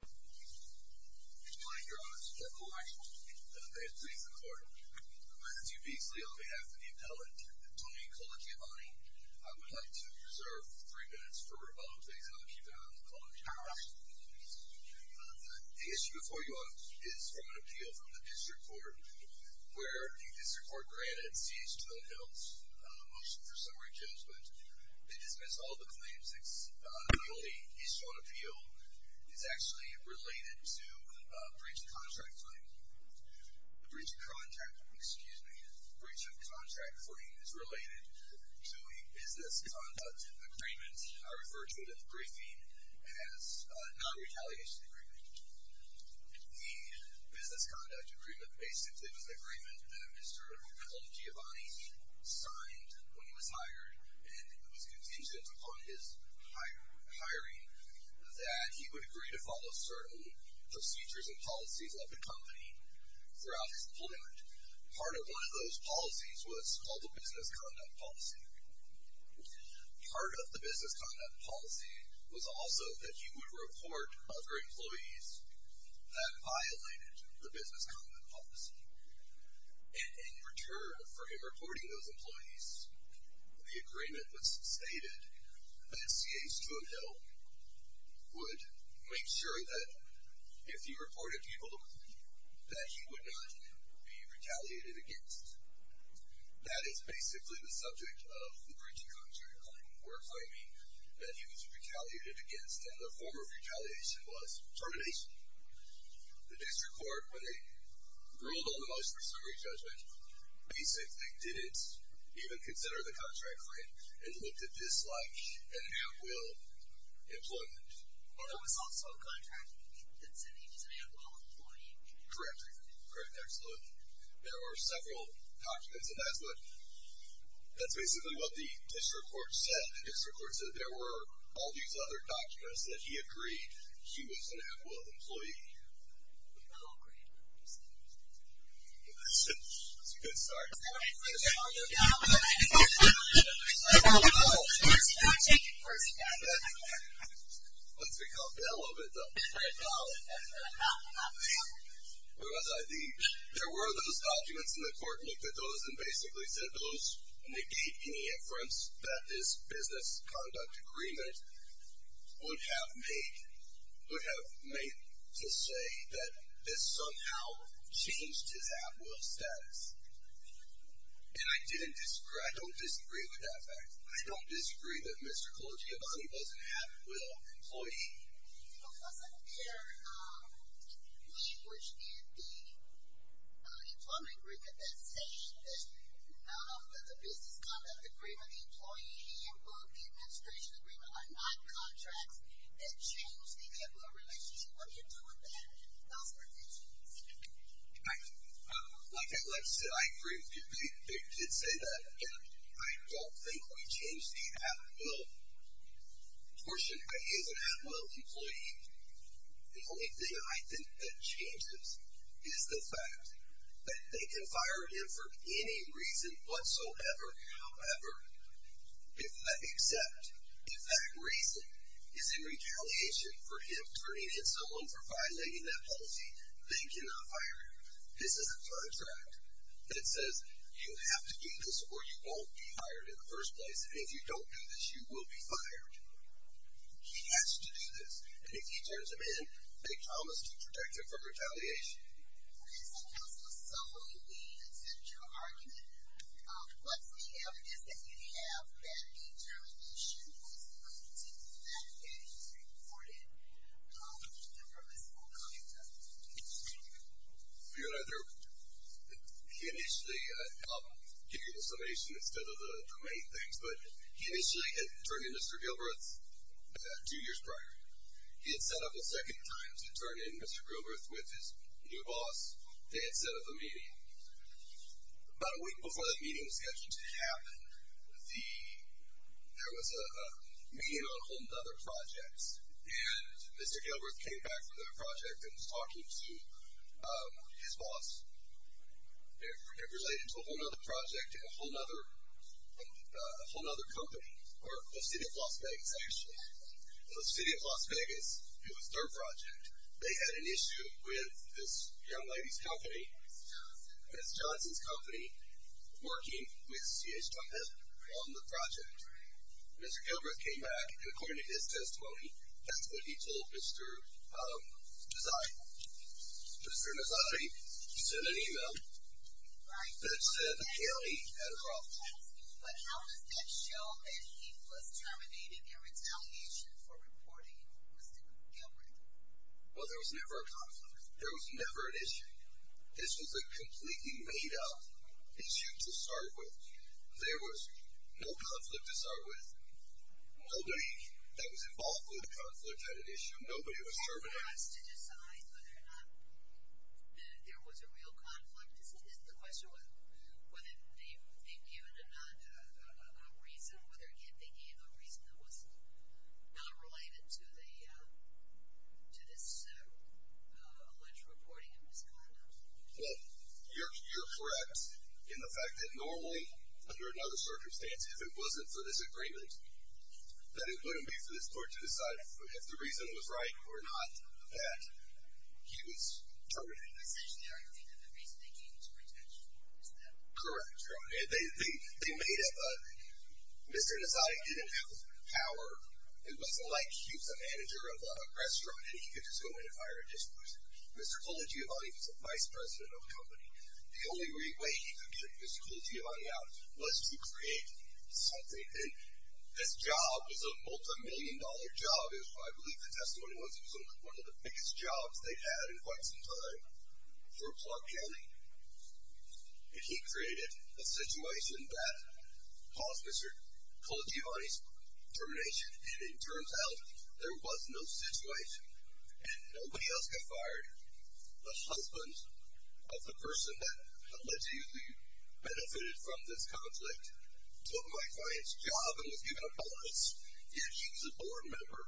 Good morning Your Honor, this is Joe Colagiovanni. Pleased to meet you, Your Honor. On behalf of the appellant, Tony Colagiovanni, I would like to reserve three minutes for rebuttal, please. I'll keep it up. I apologize. The issue before you is from an appeal from the District Court where the District Court granted CH2M Hill's motion for summary judgment. They dismissed all the claims. The only issue on appeal is actually related to a breach of contract frame. A breach of contract, excuse me, a breach of contract frame is related to a business conduct agreement. I refer to it in the briefing as a non-retaliation agreement. The business conduct agreement basically was an agreement that Mr. Colagiovanni signed when he was hired and it was contingent upon his hiring that he would agree to follow certain procedures and policies of the company throughout his employment. Part of one of those policies was called the business conduct policy. Part of the business conduct policy was also that he would report other employees that violated the business conduct policy. In return for him reporting those employees, the agreement was stated that CH2M Hill would make sure that if he reported people that he would not be retaliated against. That is basically the subject of the breach of contract claim or claiming that he was retaliated against and the form of retaliation was termination. The district court, when they ruled on the most recent re-judgment, basically didn't even consider the contract frame and looked at this like an at-will employment. There was also a contract that said he was an at-will employee. Correct, correct, excellent. There were several documents and that's what, that's basically what the district court said. The district court said there were all these other documents that he agreed he was an at-will employee. That's a good start. There were those documents and the court looked at those and basically said those negate any inference that this business conduct agreement would have made, would have made to say that this somehow changed his at-will status. And I didn't disagree, I don't disagree with that fact. I don't disagree that Mr. Clojiavani wasn't an at-will employee. He wasn't there. He was in the employment agreement that stated that out of the business conduct agreement, out of the employee handbook, the administration agreement are not contracts that change the at-will relationship. What do you do with that, those provisions? Like I said, I agree with you. They did say that. I don't think we changed the at-will portion. He is an at-will employee. The only thing I think that changes is the fact that they can fire him for any reason whatsoever, however, except if that reason is in retaliation for him turning in someone for violating that policy, they cannot fire him. This is a tribe's right. It says you have to do this or you won't be hired in the first place, and if you don't do this, you will be fired. He has to do this, and if he turns them in, they promise to protect him from retaliation. Okay, so that's the summary. We accept your argument. What's the evidence that you have that a termination was going to be medicated, reported, in the provisional contract? Thank you. You know, he initially, I'll give you the summation instead of the main things, but he initially had turned in Mr. Gilbreth two years prior. He had set up a second time to turn in Mr. Gilbreth with his new boss. They had set up a meeting. About a week before that meeting was scheduled to happen, there was a meeting on a whole other project, and Mr. Gilbreth came back from that project and was talking to his boss. It related to a whole other project and a whole other company, or the city of Las Vegas, actually. The city of Las Vegas, it was their project. They had an issue with this young lady's company Ms. Johnson's company, working with C.H. Trumpet on the project. Mr. Gilbreth came back, and according to his testimony, that's what he told Mr. Nazari. Mr. Nazari sent an email that said the county had a problem. But how does that show that he was terminating in retaliation for reporting Mr. Gilbreth? Well, there was never a conflict. There was never an issue. This was a completely made-up issue to start with. There was no conflict to start with. Nobody that was involved with the conflict had an issue. Nobody was terminating. For us to decide whether or not there was a real conflict, is the question whether they've given a reason, whether they gave a reason that was not related to this alleged reporting of Mr. Gilbreth. Well, you're correct in the fact that normally, under another circumstance, if it wasn't for this agreement, that it wouldn't be for this court to decide if the reason was right or not that he was terminated. Essentially, are you saying that the reason they gave was protection? Correct. They made up a... Mr. Nazari didn't have power. It wasn't like he was the manager of a restaurant and he could just go in and fire a dishwasher. Mr. Kulajivani was the vice president of the company. The only way he could get Mr. Kulajivani out was to create something. And this job was a multimillion-dollar job. I believe the testimony was it was one of the biggest jobs they'd had in quite some time for Clark County. And he created a situation that caused Mr. Kulajivani's termination, and it turns out there was no situation, and nobody else got fired. The husband of the person that allegedly benefited from this conflict took my client's job and was given a bonus. Yet he was a board member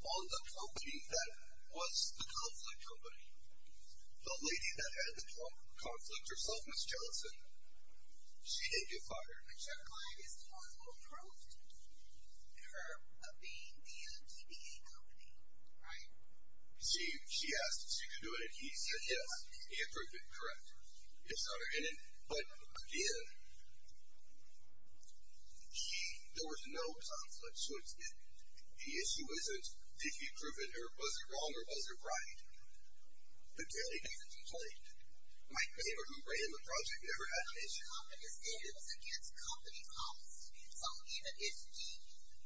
on the company that was the conflict company. The lady that had the conflict herself, Ms. Jellison, she didn't get fired. But your client is the one who approved her of being the TBA company, right? She asked if she could do it, and he said yes. He approved it, correct. But again, there was no conflict. So the issue isn't if he approved it or was it wrong or was it right. The delegate complained. My neighbor who ran the project never had an issue. The company stated it was against company policy. So even if the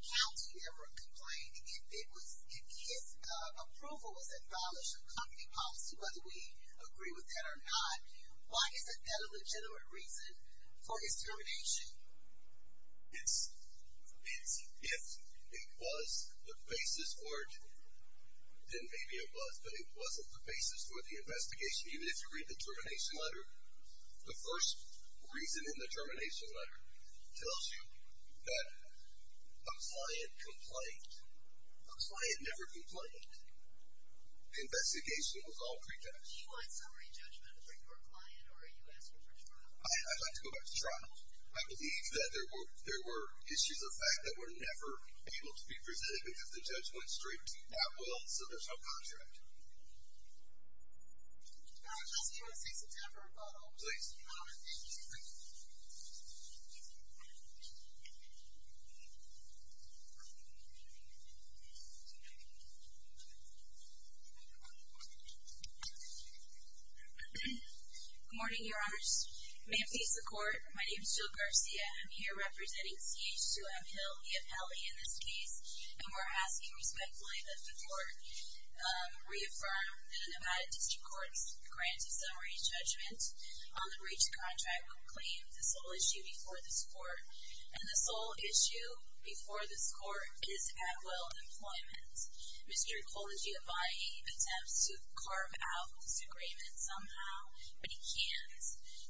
county never complained, if his approval was abolished of company policy, whether we agree with that or not, why isn't that a legitimate reason for his termination? If it was the basis for it, then maybe it was, but it wasn't the basis for the investigation. Even if you read the termination letter, the first reason in the termination letter tells you that a client complained. A client never complained. The investigation was all pretext. Do you want summary judgment for your client or are you asking for trial? I'd like to go back to trial. I believe that there were issues of fact that were never able to be presented because the judge went straight to that will so there's no contract. I'm asking for a cease and temper vote, please. Good morning, your honors. May it please the court. My name is Jill Garcia. I'm here representing CH2M Hill, EFLE in this case, and we're asking respectfully that the court reaffirm that the Nevada District Court's grant of summary judgment on the breach of contract would claim the sole issue before this court, and the sole issue before this court is Atwell Employment. Mr. Cology, if I may, attempts to carve out this agreement somehow, but he can't.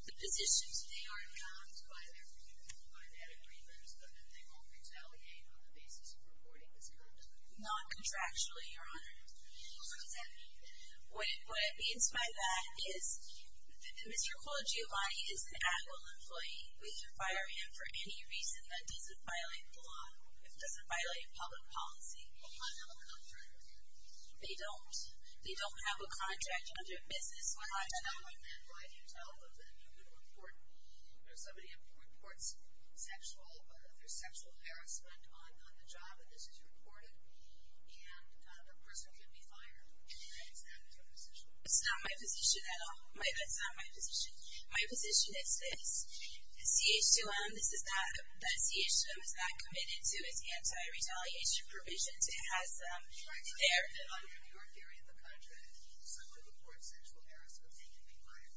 The positions today are not by that agreement, but that they won't retaliate on the basis of reporting this contract. Not contractually, your honor. What does that mean? What it means by that is that Mr. Cology, while he is an Atwell employee, we can fire him for any reason that doesn't violate the law, doesn't violate public policy. They don't have a contract with him? They don't. They don't have a contract under business. Why do you tell them that? You could report, if somebody reports sexual harassment on the job, that this is reported, and the person could be fired. Is that your position? That's not my position at all. That's not my position. My position is this. CH2M, this is not, CH2M is not committed to its anti-retaliation provisions. It has them there. Your theory of the contract, someone reports sexual harassment, they can be fired.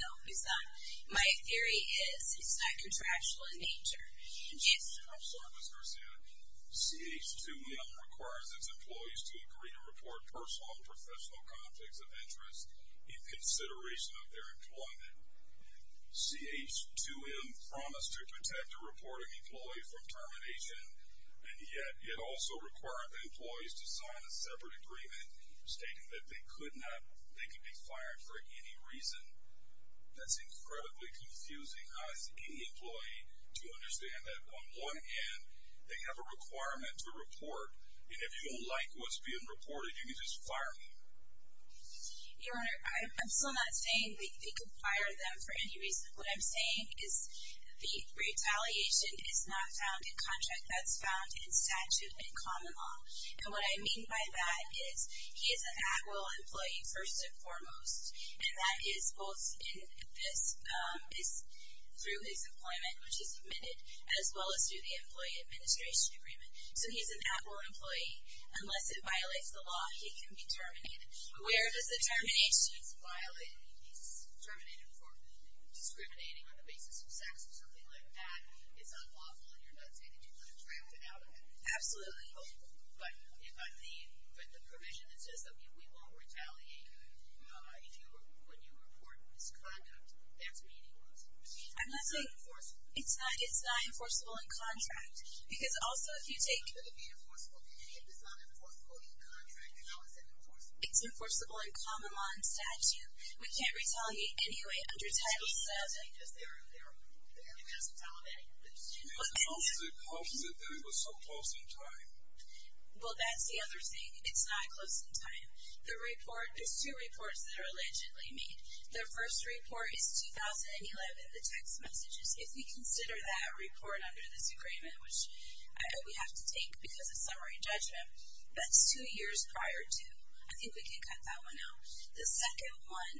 No, it's not. My theory is it's not contractual in nature. What was her sanity? CH2M requires its employees to agree to report personal and professional conflicts of interest in consideration of their employment. CH2M promised to protect a reporting employee from termination, and yet it also required the employees to sign a separate agreement stating that they could be fired for any reason. That's incredibly confusing as any employee to understand that on one hand, they have a requirement to report, and if you don't like what's being reported, you can just fire me. Your Honor, I'm still not saying they could fire them for any reason. What I'm saying is the retaliation is not found in contract. That's found in statute and common law. And what I mean by that is he is an at-will employee first and foremost, and that is both in this, is through his employment, which is admitted, as well as through the employee administration agreement. So he's an at-will employee. Unless it violates the law, he can be terminated. Where is the termination? He's terminated for discriminating on the basis of sex or something like that. It's unlawful, and you're not saying that you could have drafted out of it. Absolutely. But the provision that says that we won't retaliate when you report misconduct, that's meaningless. I'm not saying it's not enforceable. It's not enforceable in contract. Because also if you take... It's enforceable in common law and statute. We can't retaliate anyway under Title VII. Well, that's the other thing. It's not close in time. There's two reports that are allegedly made. The first report is 2011, the text messages. If we consider that report under this agreement, which I hope we have to take because of summary and judgment, that's two years prior to. I think we can cut that one out. The second one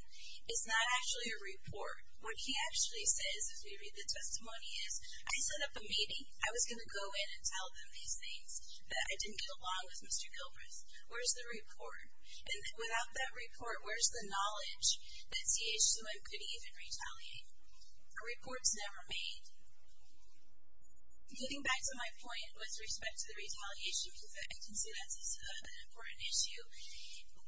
is not actually a report. What he actually says, if we read the testimony, is, I set up a meeting. I was going to go in and tell them these things that I didn't get along with Mr. Gilbreth. Where's the report? And without that report, where's the knowledge that CHUM could even retaliate? A report's never made. Getting back to my point with respect to the retaliation, I can say that's an important issue.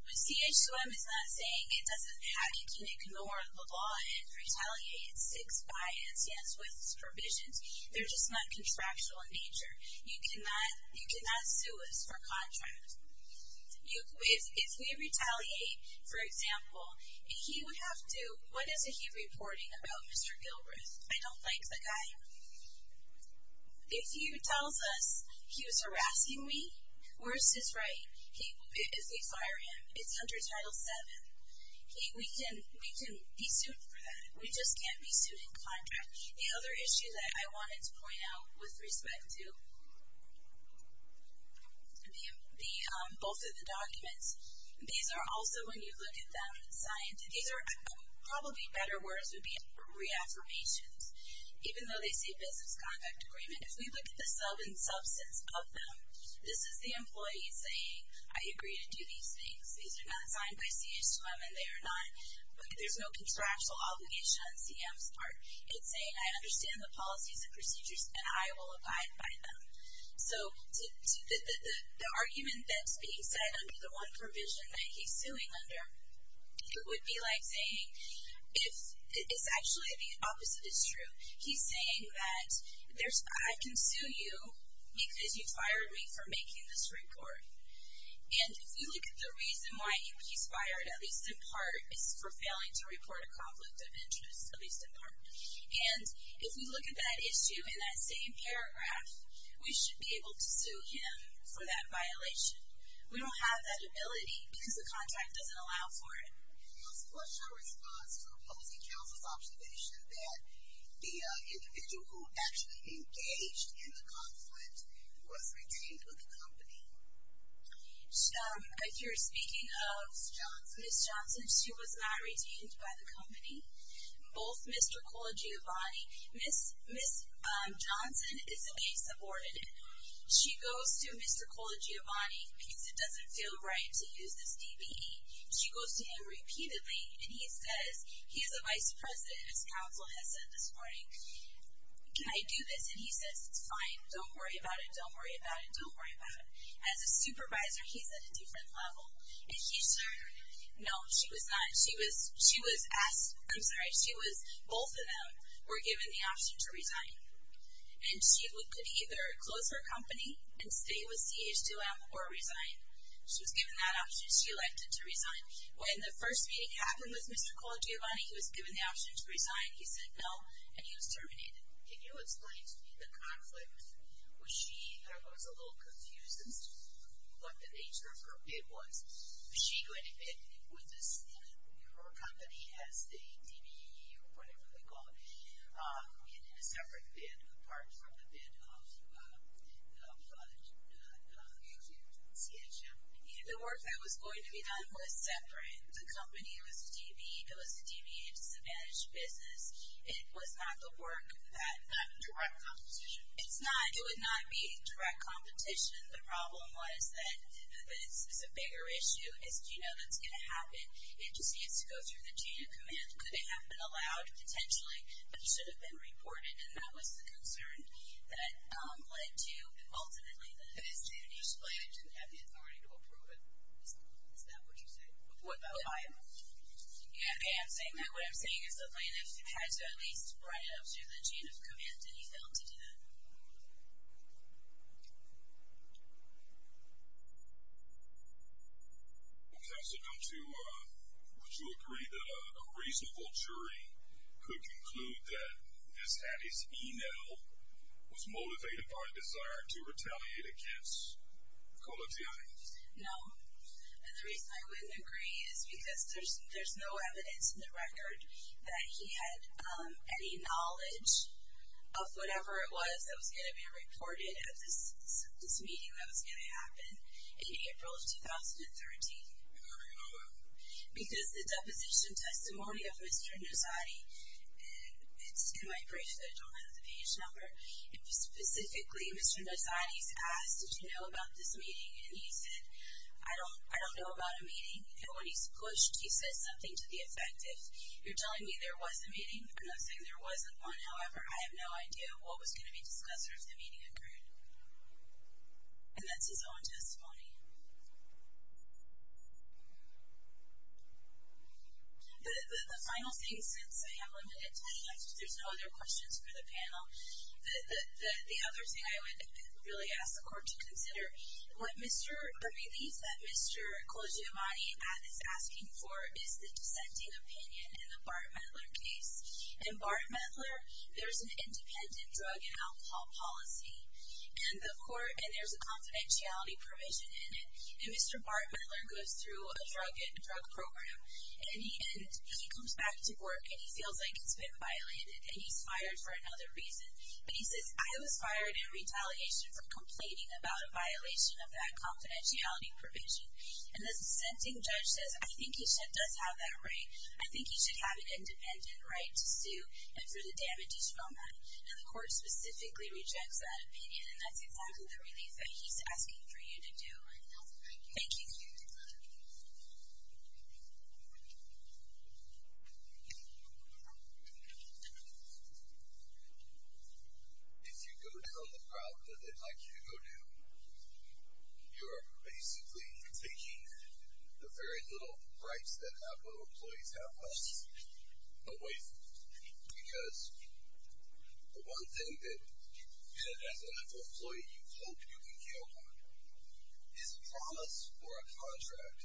CHUM is not saying it doesn't have... You can ignore the law and retaliate. It's six bias, yes, with its provisions. They're just not contractual in nature. You cannot sue us for contract. If we retaliate, for example, he would have to... I don't like the guy. If he tells us he was harassing me, where's his right? If we fire him, it's under Title VII. We can be sued for that. We just can't be sued in contract. The other issue that I wanted to point out with respect to both of the documents, these are also, when you look at them, probably better words would be reaffirmations. Even though they say business contract agreement, if we look at the sub and substance of them, this is the employee saying, I agree to do these things. These are not signed by CHUM and they are not... There's no contractual obligation on CM's part. It's saying, I understand the policies and procedures, and I will abide by them. So the argument that's being set under the one provision that he's suing under, it would be like saying, it's actually the opposite is true. He's saying that I can sue you because you fired me for making this report. And if we look at the reason why he's fired, at least in part, is for failing to report a conflict of interest, at least in part. And if we look at that issue in that same paragraph, we should be able to sue him for that violation. We don't have that ability because the contract doesn't allow for it. What's your response to opposing counsel's observation that the individual who actually engaged in the conflict was redeemed by the company? If you're speaking of Ms. Johnson, she was not redeemed by the company. Both Mr. Colagiovanni... Ms. Johnson isn't being subordinated. She goes to Mr. Colagiovanni because it doesn't feel right to use this DBE. She goes to him repeatedly, and he says, he is a vice president, as counsel has said this morning, can I do this? And he says, it's fine, don't worry about it, don't worry about it, don't worry about it. As a supervisor, he's at a different level. And he said, no, she was not. She was asked, I'm sorry, she was... Both of them were given the option to retire. And she could either close her company and stay with CH2M or resign. She was given that option. She elected to resign. When the first meeting happened with Mr. Colagiovanni, he was given the option to resign. He said no, and he was terminated. Can you explain to me the conflict? Was she... I was a little confused as to what the nature of her bid was. Was she going to bid with this... Her company has the DBE, or whatever they call it, in a separate bid, apart from the bid of CH2M. The work that was going to be done was separate. The company was a DBE. It was a DBE and disadvantaged business. It was not the work that... Not in direct competition. It's not. It would not be in direct competition. The problem was that this is a bigger issue. It's, you know, that's going to happen. It just needs to go through the chain of command. It could have been allowed, potentially, but it should have been reported, and that was the concern that led to, ultimately, the decision. It's just that they didn't have the authority to approve it. Is that what you're saying? Yeah. Okay, I'm saying that. What I'm saying is the plaintiff had to at least write it up through the chain of command, and he failed to do that. Okay. Counsel, don't you agree that a reasonable jury could conclude that Ms. Hattie's e-mail was motivated by a desire to retaliate against Colettiani? No. And the reason I wouldn't agree is because there's no evidence in the record that he had any knowledge of whatever it was that was going to be reported at this meeting that was going to happen in April of 2013. Because the deposition testimony of Mr. Nozzatti, and it's in my brief that I don't have the page number, specifically Mr. Nozzatti's asked, did you know about this meeting? And when he's pushed, he says something to the effect of, you're telling me there was a meeting? And I'm saying there wasn't one. However, I have no idea what was going to be discussed or if the meeting occurred. And that's his own testimony. The final thing, since I have limited time, since there's no other questions for the panel, the other thing I would really ask the Court to consider, the relief that Mr. Colettiani is asking for is the dissenting opinion in the Bart Mettler case. In Bart Mettler, there's an independent drug and alcohol policy, and there's a confidentiality provision in it. And Mr. Bart Mettler goes through a drug program, and he comes back to work and he feels like it's been violated, and he's fired for another reason. But he says, I was fired in retaliation for complaining about a violation of that confidentiality provision. And the dissenting judge says, I think he does have that right. I think he should have an independent right to sue and for the damages from that. And the Court specifically rejects that opinion, and that's exactly the relief that he's asking for you to do. All right. Thank you. Thank you. If you go down the route like Hugo did, you're basically taking the very little rights that our employees have left away because the one thing that, as an employee, you hope you can count on is a promise or a contract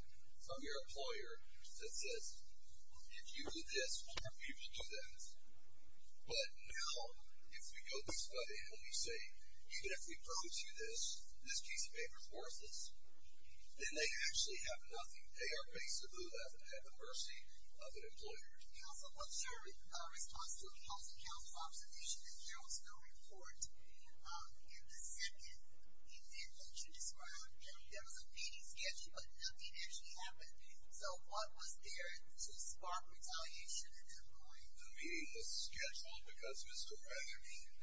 from your employer that says, if you do this, more people do that. But now if we go this way and we say, even if we prove to you this, this piece of paper is worthless, then they actually have nothing. They are basically left at the mercy of an employer. Counsel, what's your response to the housing council's observation that there was no report in the second event that you described? There was a meeting scheduled, but nothing actually happened. So what was there to spark retaliation at that point? The meeting was scheduled because Mr. Rack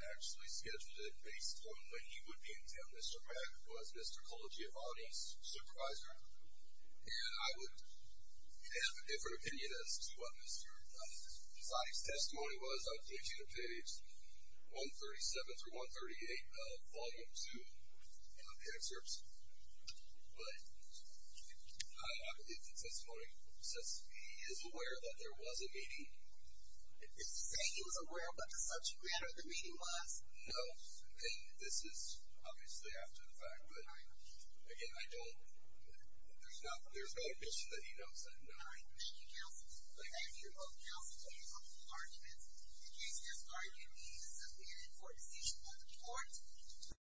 actually scheduled it based on when he would be in jail. Rack was Mr. Colagiovanni's supervisor, and I would have a different opinion as to what Mr. Posadi's testimony was. I'll take you to page 137 through 138 of Volume 2 of the excerpts. But I believe the testimony says he is aware that there was a meeting. Is he saying he was aware of what the subject matter of the meeting was? No, and this is obviously after the fact. But, again, I don't, there's no evidence that he knows that, no. All right, thank you, counsel. Thank you. Counsel, please hold arguments. In case this argument means that we get an important decision on the court.